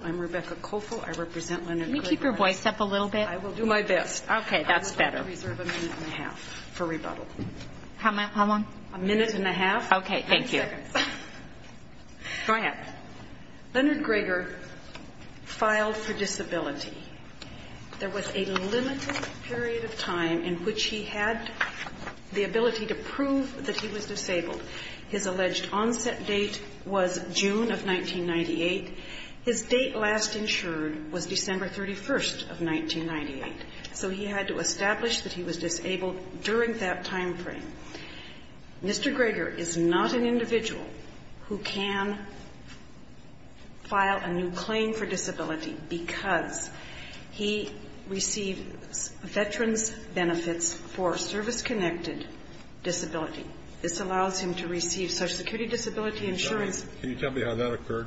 I'm Rebecca Kofel, I represent Leonard Greger. Can you keep your voice up a little bit? I will do my best. Okay, that's better. I'm going to reserve a minute and a half for rebuttal. How long? A minute and a half. Okay, thank you. 30 seconds. Go ahead. Leonard Greger filed for disability. There was a limited period of time in which he had the ability to prove that he was disabled. His alleged onset date was June of 1998. His date last insured was December 31st of 1998. So he had to establish that he was disabled during that time frame. Mr. Greger is not an individual who can file a new claim for disability because he received veterans' benefits for service-connected disability. This allows him to receive Social Security disability insurance. Can you tell me how that occurred,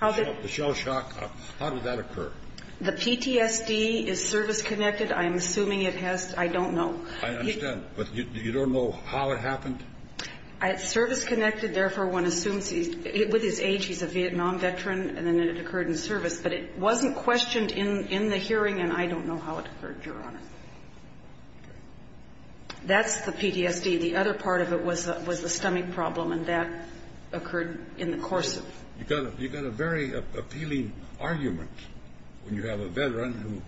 the shell shock? How did that occur? The PTSD is service-connected. I'm assuming it has to be. I don't know. I understand. But you don't know how it happened? It's service-connected. Therefore, one assumes with his age he's a Vietnam veteran, and then it occurred in service. But it wasn't questioned in the hearing, and I don't know how it occurred, Your Honor. That's the PTSD. The other part of it was a stomach problem, and that occurred in the course of You've got a very appealing argument when you have a veteran who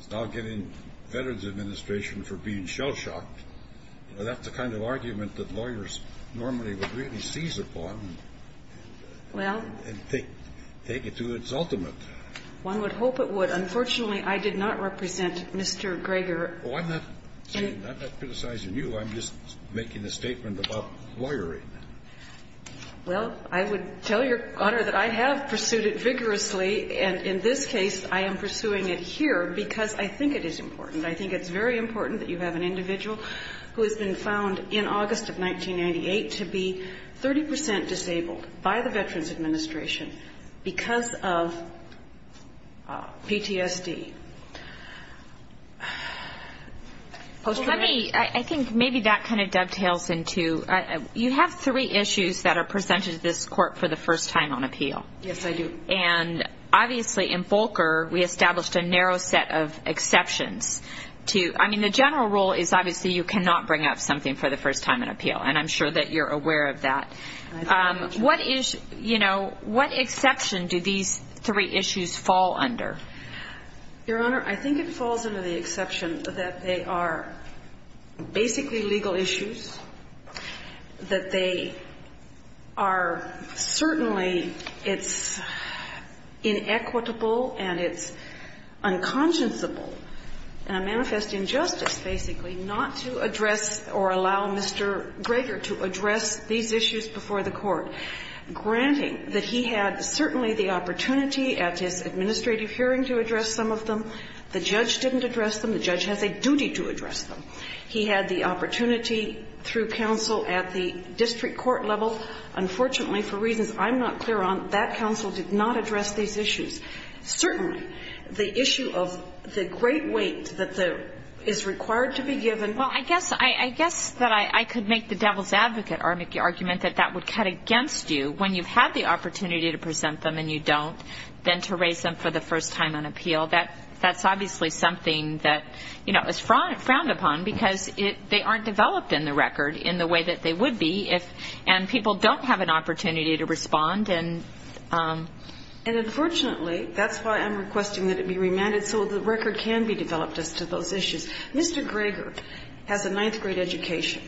is now getting veterans' administration for being shell shocked. That's the kind of argument that lawyers normally would really seize upon and take it to its ultimate. One would hope it would. Unfortunately, I did not represent Mr. Greger. Well, I'm not criticizing you. I'm just making a statement about lawyering. Well, I would tell Your Honor that I have pursued it vigorously, and in this case, I am pursuing it here because I think it is important. I think it's very important that you have an individual who has been found in August of 1998 to be 30 percent disabled by the Veterans Administration because of PTSD. I think maybe that kind of dovetails into you have three issues that are presented to this court for the first time on appeal. Yes, I do. And obviously in Volcker, we established a narrow set of exceptions. I mean, the general rule is obviously you cannot bring up something for the first time on appeal, and I'm sure that you're aware of that. What is, you know, what exception do these three issues fall under? Your Honor, I think it falls under the exception that they are basically legal issues, that they are certainly it's inequitable and it's unconscionable and a manifest injustice, basically, not to address or allow Mr. Greger to address these issues before the Court, granting that he had certainly the opportunity at his administrative hearing to address some of them. The judge didn't address them. The judge has a duty to address them. He had the opportunity through counsel at the district court level. Unfortunately, for reasons I'm not clear on, that counsel did not address these issues. Certainly, the issue of the great weight that is required to be given. Well, I guess that I could make the devil's advocate argument that that would cut them, and you don't, than to raise them for the first time on appeal. That's obviously something that, you know, is frowned upon, because they aren't developed in the record in the way that they would be if, and people don't have an opportunity to respond, and... And unfortunately, that's why I'm requesting that it be remanded so the record can be developed as to those issues. Mr. Greger has a ninth-grade education.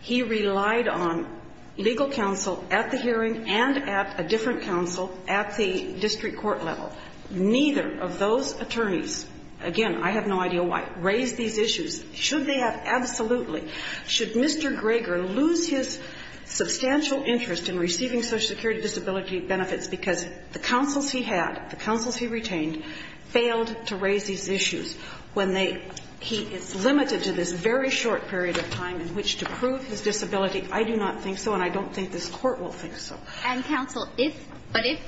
He relied on legal counsel at the hearing and at a different counsel at the district court level. Neither of those attorneys, again, I have no idea why, raised these issues. Should they have? Absolutely. Should Mr. Greger lose his substantial interest in receiving Social Security disability benefits because the counsels he had, the counsels he retained, failed to raise these issues when they, he is limited to this very short period of time in which to prove his disability. I do not think so, and I don't think this Court will think so. And, counsel, if, but if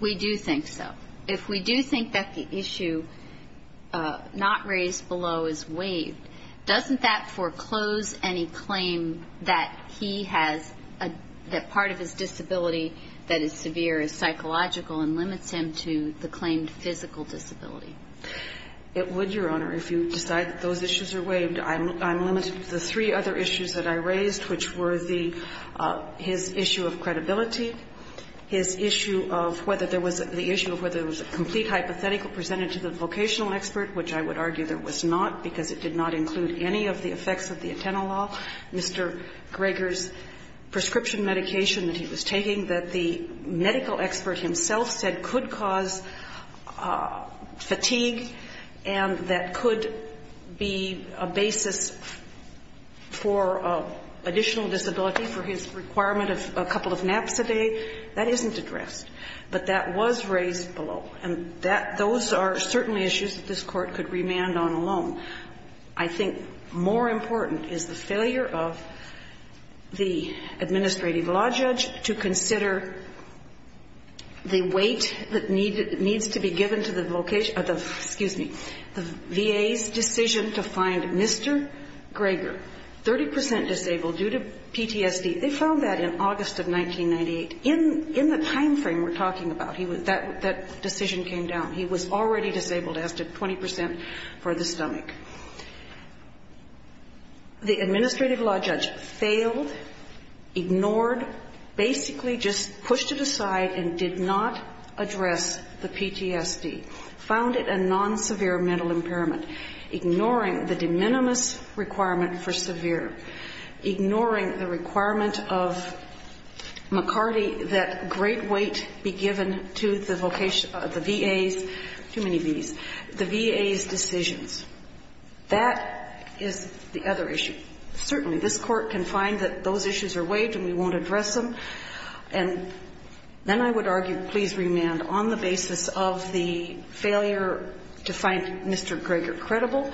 we do think so, if we do think that the issue not raised below is waived, doesn't that foreclose any claim that he has, that part of his disability that is severe is psychological and limits him to the claimed physical disability? It would, Your Honor, if you decide that those issues are waived. I'm limited to the three other issues that I raised, which were the, his issue of credibility, his issue of whether there was, the issue of whether there was a complete hypothetical presented to the vocational expert, which I would argue there was not because it did not include any of the effects of the Atenolol, Mr. Greger's prescription medication that he was taking, that the medical expert himself said could cause fatigue, and that could be a basis for additional disability for his requirement of a couple of naps a day. That isn't addressed, but that was raised below, and that, those are certainly issues that this Court could remand on alone. I think more important is the failure of the administrative law judge to consider the weight that needs to be given to the, excuse me, the VA's decision to find Mr. Greger, 30 percent disabled due to PTSD. They found that in August of 1998. In the time frame we're talking about, that decision came down. He was already disabled, asked at 20 percent for the stomach. The administrative law judge failed, ignored, basically just pushed it aside and did not address the PTSD, found it a non-severe mental impairment, ignoring the de minimis requirement for severe, ignoring the requirement of McCarty that great weight be given to the VA's, too many V's, the VA's decisions. That is the other issue. Certainly, this Court can find that those issues are waived and we won't address them, and then I would argue, please remand on the basis of the failure to find Mr. Greger credible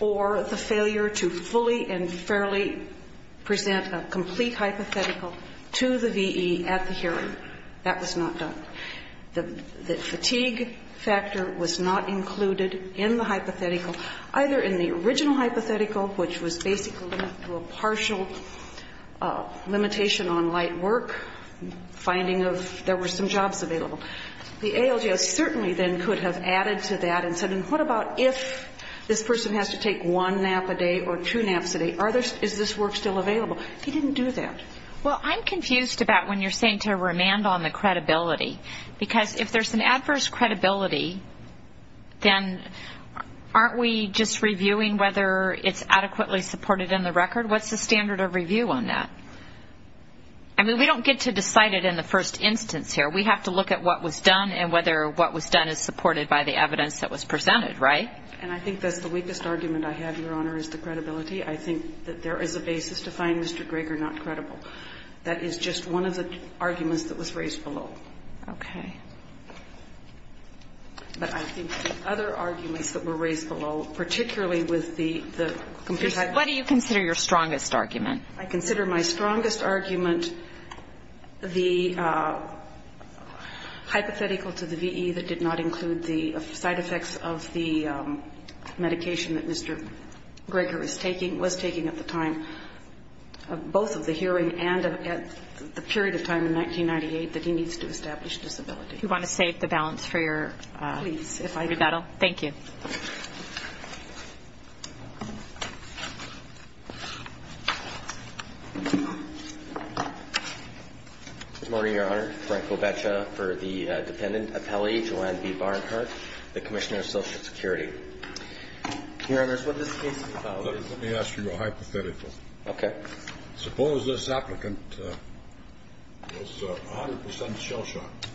or the failure to fully and fairly present a complete hypothetical to the VE at the hearing. That was not done. The fatigue factor was not included in the hypothetical, either in the original hypothetical, which was basically to a partial limitation on light work, finding if there were some jobs available. The ALGO certainly then could have added to that and said what about if this person has to take one nap a day or two naps a day, is this work still available? He didn't do that. Well, I'm confused about when you're saying to remand on the credibility, because if there's an adverse credibility, then aren't we just reviewing whether it's adequately supported in the record? What's the standard of review on that? I mean, we don't get to decide it in the first instance here. We have to look at what was done and whether what was done is supported by the evidence that was presented, right? And I think that's the weakest argument I have, Your Honor, is the credibility. I think that there is a basis to find Mr. Greger not credible. That is just one of the arguments that was raised below. Okay. But I think the other arguments that were raised below, particularly with the complete hypothetical. What do you consider your strongest argument? I consider my strongest argument the hypothetical to the VE that did not include the side effects of the medication that Mr. Greger is taking, was taking at the time of both of the hearing and at the period of time in 1998 that he needs to establish disability. You want to save the balance for your rebuttal? Please, if I could. Thank you. Good morning, Your Honor. Frank Goveccia for the dependent appellee. Joanne B. Barnhart, the Commissioner of Social Security. Your Honor, what this case is about is Let me ask you a hypothetical. Okay. Suppose this applicant was 100 percent shell-shocked.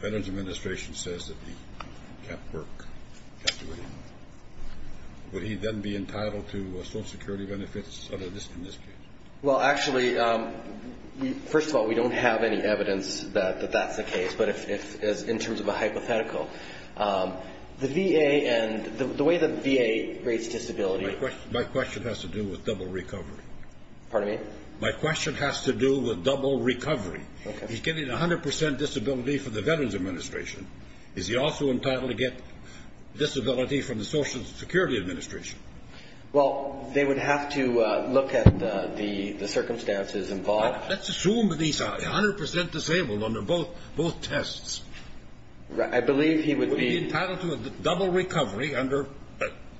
Veterans Administration says that he can't work, can't do anything. Would he then be entitled to Social Security benefits, in this case? Well, actually, first of all, we don't have any evidence that that's the case. But in terms of a hypothetical, the VA and the way the VA rates disability My question has to do with double recovery. Pardon me? My question has to do with double recovery. Okay. He's getting 100 percent disability from the Veterans Administration. Is he also entitled to get disability from the Social Security Administration? Well, they would have to look at the circumstances involved. Let's assume that he's 100 percent disabled under both tests. I believe he would be. Would he be entitled to a double recovery under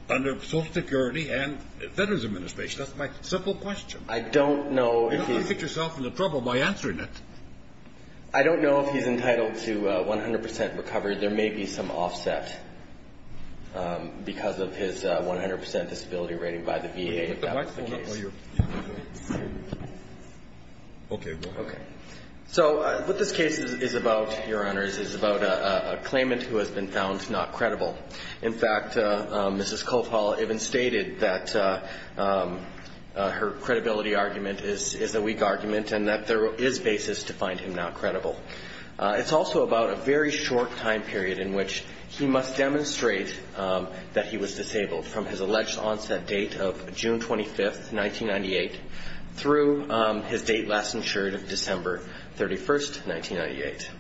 Social Security and Veterans Administration? That's my simple question. I don't know if he's You don't want to get yourself into trouble by answering it. I don't know if he's entitled to 100 percent recovery. However, there may be some offset because of his 100 percent disability rating by the VA, if that was the case. Okay. Okay. So what this case is about, Your Honors, is about a claimant who has been found not credible. In fact, Mrs. Cothall even stated that her credibility argument is a weak argument and that there is basis to find him not credible. It's also about a very short time period in which he must demonstrate that he was disabled from his alleged onset date of June 25, 1998, through his date last insured, December 31, 1998.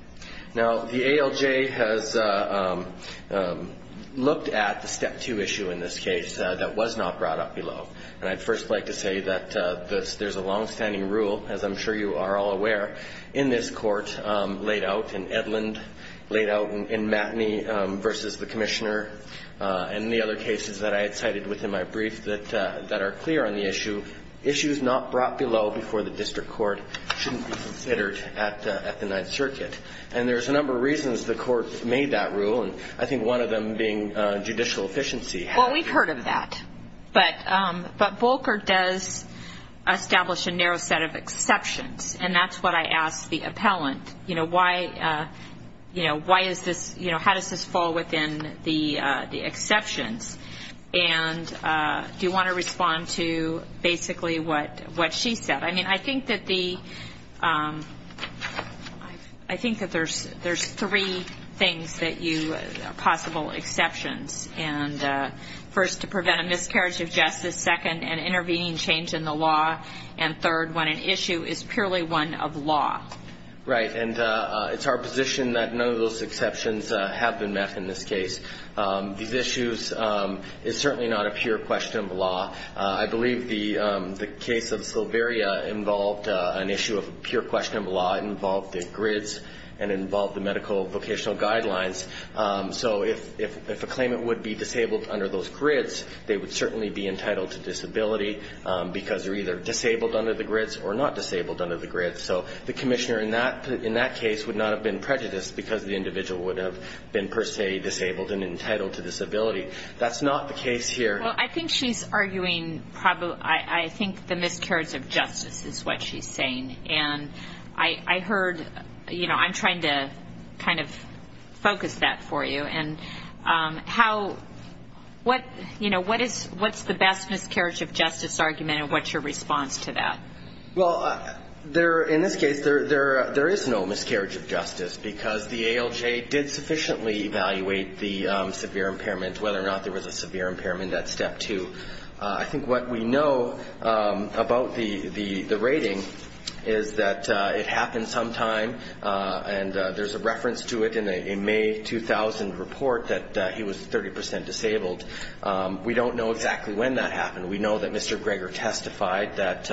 Now, the ALJ has looked at the Step 2 issue in this case that was not brought up below. And I'd first like to say that there's a longstanding rule, as I'm sure you are all aware, in this court laid out in Edlund, laid out in Matinee v. The Commissioner, and the other cases that I had cited within my brief that are clear on the issue, issues not brought below before the district court shouldn't be considered at the Ninth Circuit. And there's a number of reasons the court made that rule, and I think one of them being judicial efficiency. Well, we've heard of that. But Volker does establish a narrow set of exceptions, and that's what I asked the appellant. You know, how does this fall within the exceptions? And do you want to respond to basically what she said? I mean, I think that the ‑‑ I think that there's three things that you ‑‑ possible exceptions. And first, to prevent a miscarriage of justice. Second, an intervening change in the law. And third, when an issue is purely one of law. Right. And it's our position that none of those exceptions have been met in this case. These issues is certainly not a pure question of law. I believe the case of Sylveria involved an issue of pure question of law. It involved the grids and it involved the medical vocational guidelines. So if a claimant would be disabled under those grids, they would certainly be entitled to disability because they're either disabled under the grids or not disabled under the grids. So the commissioner in that case would not have been prejudiced because the individual would have been, per se, disabled and entitled to disability. That's not the case here. Well, I think she's arguing probably ‑‑ I think the miscarriage of justice is what she's saying. And I heard, you know, I'm trying to kind of focus that for you. And how ‑‑ what, you know, what is ‑‑ what's the best miscarriage of justice argument and what's your response to that? Well, there ‑‑ in this case, there is no miscarriage of justice because the ALJ did sufficiently evaluate the severe impairment, whether or not there was a severe impairment at step two. I think what we know about the rating is that it happened sometime, and there's a reference to it in a May 2000 report that he was 30% disabled. We don't know exactly when that happened. We know that Mr. Greger testified that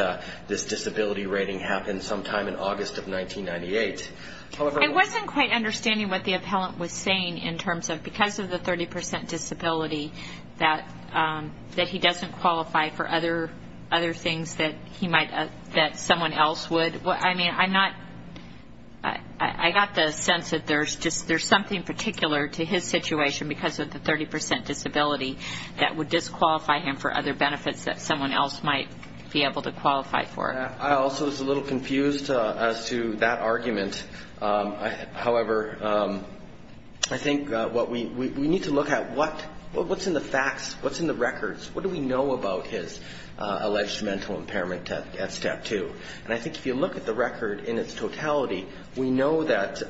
this disability rating happened sometime in August of 1998. I wasn't quite understanding what the appellant was saying in terms of because of the 30% disability that he doesn't qualify for other things that he might ‑‑ that someone else would. I mean, I'm not ‑‑ I got the sense that there's just ‑‑ there's something particular to his situation because of the 30% disability that would disqualify him for other benefits that someone else might be able to qualify for. I also was a little confused as to that argument. However, I think what we need to look at, what's in the facts, what's in the records? What do we know about his alleged mental impairment at step two? And I think if you look at the record in its totality, we know that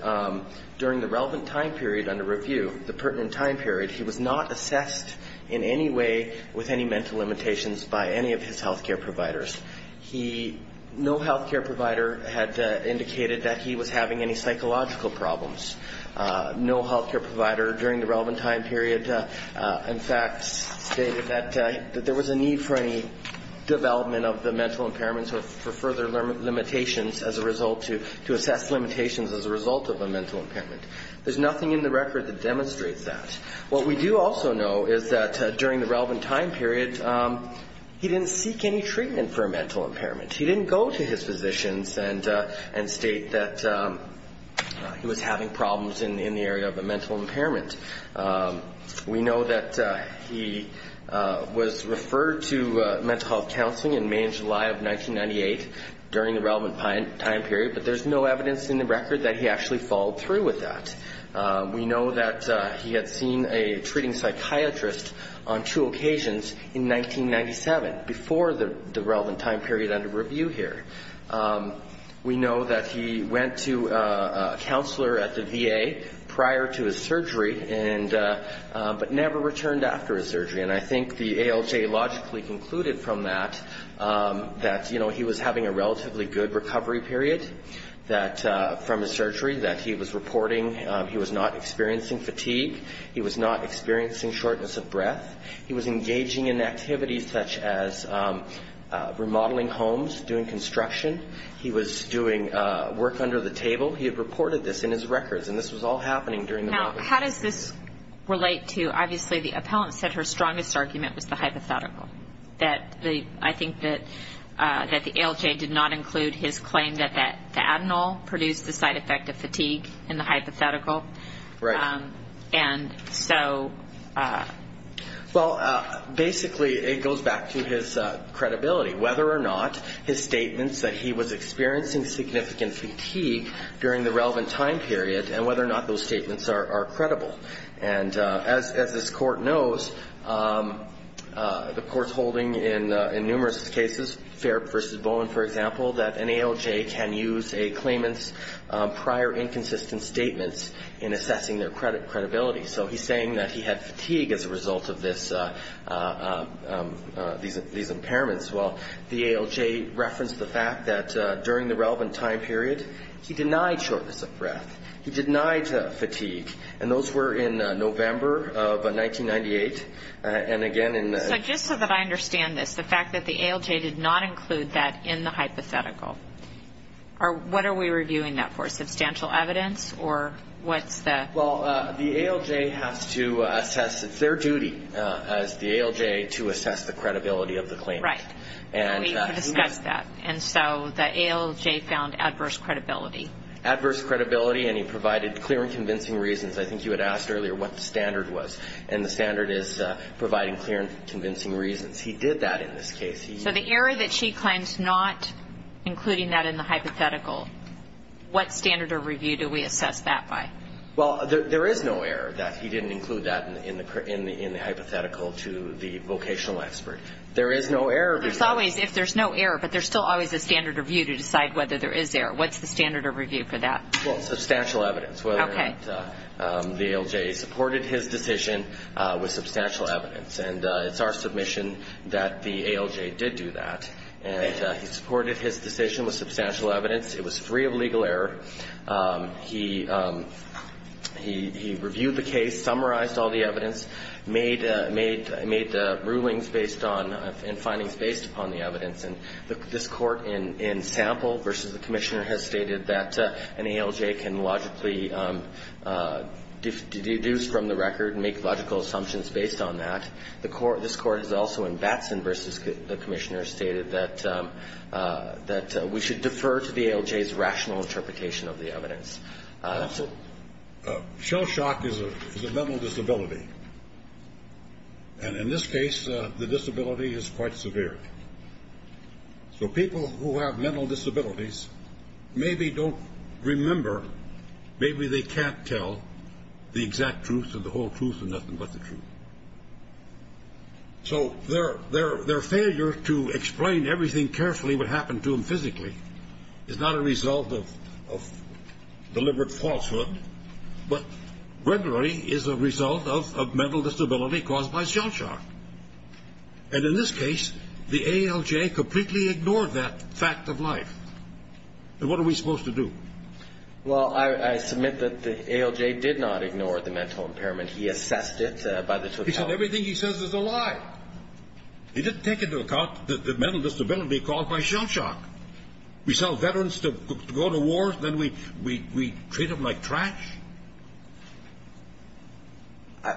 during the relevant time period under review, the pertinent time period, he was not assessed in any way with any mental limitations by any of his health care providers. He ‑‑ no health care provider had indicated that he was having any psychological problems. No health care provider during the relevant time period, in fact, stated that there was a need for any development of the mental impairments or for further limitations as a result to assess limitations as a result of a mental impairment. There's nothing in the record that demonstrates that. What we do also know is that during the relevant time period, he didn't seek any treatment for a mental impairment. He didn't go to his physicians and state that he was having problems in the area of a mental impairment. We know that he was referred to mental health counseling in May and July of 1998 during the relevant time period, but there's no evidence in the record that he actually followed through with that. We know that he had seen a treating psychiatrist on two occasions in 1997, before the relevant time period under review here. We know that he went to a counselor at the VA prior to his surgery, but never returned after his surgery. And I think the ALJ logically concluded from that that, you know, he was having a relatively good recovery period from his surgery, that he was reporting he was not experiencing fatigue. He was not experiencing shortness of breath. He was engaging in activities such as remodeling homes, doing construction. He was doing work under the table. He had reported this in his records, and this was all happening during the relevant time period. Now, how does this relate to, obviously, the appellant said her strongest argument was the hypothetical, that I think that the ALJ did not include his claim that the adenal produced the side effect of fatigue in the hypothetical. Right. Well, basically, it goes back to his credibility, whether or not his statements that he was experiencing significant fatigue during the relevant time period, and whether or not those statements are credible. And as this Court knows, the Court's holding in numerous cases, Fair versus Bowen, for example, that an ALJ can use a claimant's prior inconsistent statements in assessing their credibility. So he's saying that he had fatigue as a result of this, these impairments. Well, the ALJ referenced the fact that during the relevant time period, he denied shortness of breath. He denied fatigue. And those were in November of 1998, and again in the... So just so that I understand this, the fact that the ALJ did not include that in the hypothetical, what are we reviewing that for, substantial evidence, or what's the... Well, the ALJ has to assess, it's their duty as the ALJ to assess the credibility of the claim. Right. We discussed that, and so the ALJ found adverse credibility. Adverse credibility, and he provided clear and convincing reasons. I think you had asked earlier what the standard was, and the standard is providing clear and convincing reasons. He did that in this case. So the error that she claims not including that in the hypothetical, what standard of review do we assess that by? Well, there is no error that he didn't include that in the hypothetical to the vocational expert. There is no error. There's always, if there's no error, but there's still always a standard of review to decide whether there is error. What's the standard of review for that? Well, substantial evidence. The ALJ supported his decision with substantial evidence, and it's our submission that the ALJ did do that. And he supported his decision with substantial evidence. It was free of legal error. He reviewed the case, summarized all the evidence, made rulings based on, and findings based upon the evidence, and this court in sample versus the commissioner has stated that an ALJ can logically deduce from the record and make logical assumptions based on that. This court has also in Batson versus the commissioner stated that we should defer to the ALJ's rational interpretation of the evidence. Shell shock is a mental disability. And in this case, the disability is quite severe. So people who have mental disabilities maybe don't remember, maybe they can't tell the exact truth or the whole truth or nothing but the truth. So their failure to explain everything carefully what happened to them physically is not a result of deliberate falsehood, but regularly is a result of mental disability caused by shell shock. And in this case, the ALJ completely ignored that fact of life. And what are we supposed to do? Well, I submit that the ALJ did not ignore the mental impairment. He assessed it by the totality. He said everything he says is a lie. He didn't take into account the mental disability caused by shell shock. We sell veterans to go to war, then we treat them like trash?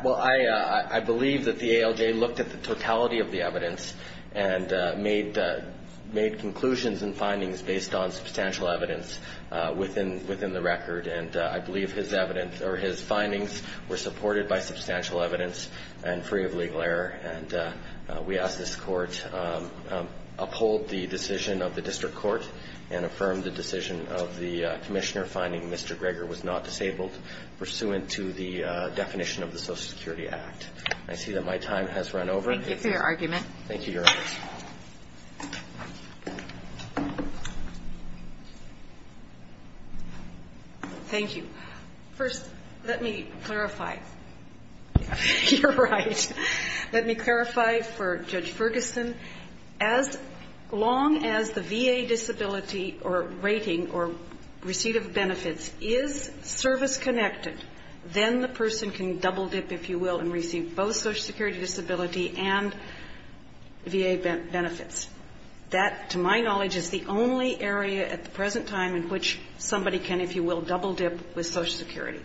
Well, I believe that the ALJ looked at the totality of the evidence and made conclusions and findings based on substantial evidence within the record. And I believe his evidence or his findings were supported by substantial evidence and free of legal error. And we ask this Court uphold the decision of the District Court and affirm the decision of the Commissioner finding Mr. Greger was not disabled, pursuant to the definition of the Social Security Act. I see that my time has run over. Thank you for your argument. Thank you. First, let me clarify. You're right. Let me clarify for Judge Ferguson. As long as the VA disability or rating or receipt of benefits is service-connected, then the person can double-dip, if you will, VA benefits. That, to my knowledge, is the only area at the present time in which somebody can, if you will, double-dip with Social Security.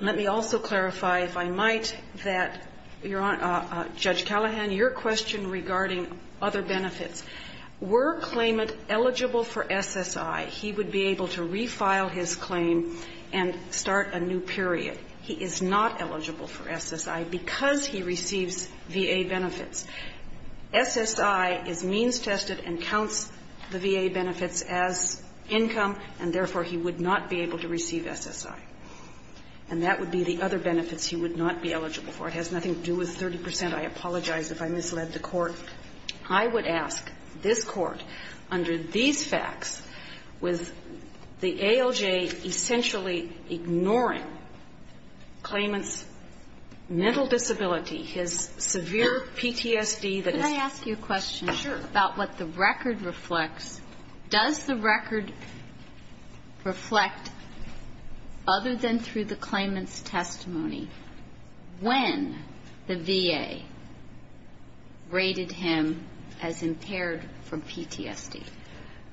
Let me also clarify, if I might, that, Judge Callahan, your question regarding other benefits, were claimant eligible for SSI, he would be able to refile his claim and start a new period. He is not eligible for SSI because he receives VA benefits. SSI is means-tested and counts the VA benefits as income, and therefore, he would not be able to receive SSI. And that would be the other benefits he would not be eligible for. It has nothing to do with 30 percent. I apologize if I misled the Court. I would ask this Court, under these facts, with the ALJ essentially ignoring the fact that claimant's mental disability, his severe PTSD that is ‑‑ Can I ask you a question? Sure. About what the record reflects. Does the record reflect, other than through the claimant's testimony, when the VA rated him as impaired from PTSD?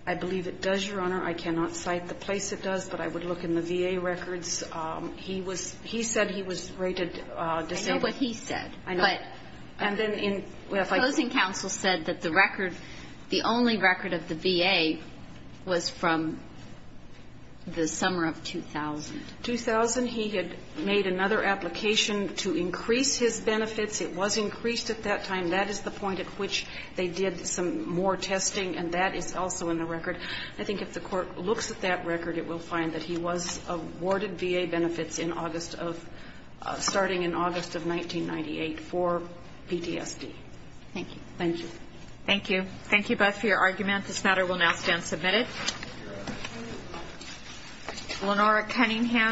I believe it does, Your Honor. I cannot cite the place it does, but I would look in the VA records. He was ‑‑ he said he was rated disabled. I know what he said. I know. And then in ‑‑ Closing counsel said that the record, the only record of the VA was from the summer of 2000. 2000. He had made another application to increase his benefits. It was increased at that time. That is the point at which they did some more testing, and that is also in the record. I think if the Court looks at that record, it will find that he was awarded VA benefits in August of ‑‑ starting in August of 1998 for PTSD. Thank you. Thank you. Thank you. Thank you both for your argument. This matter will now stand submitted.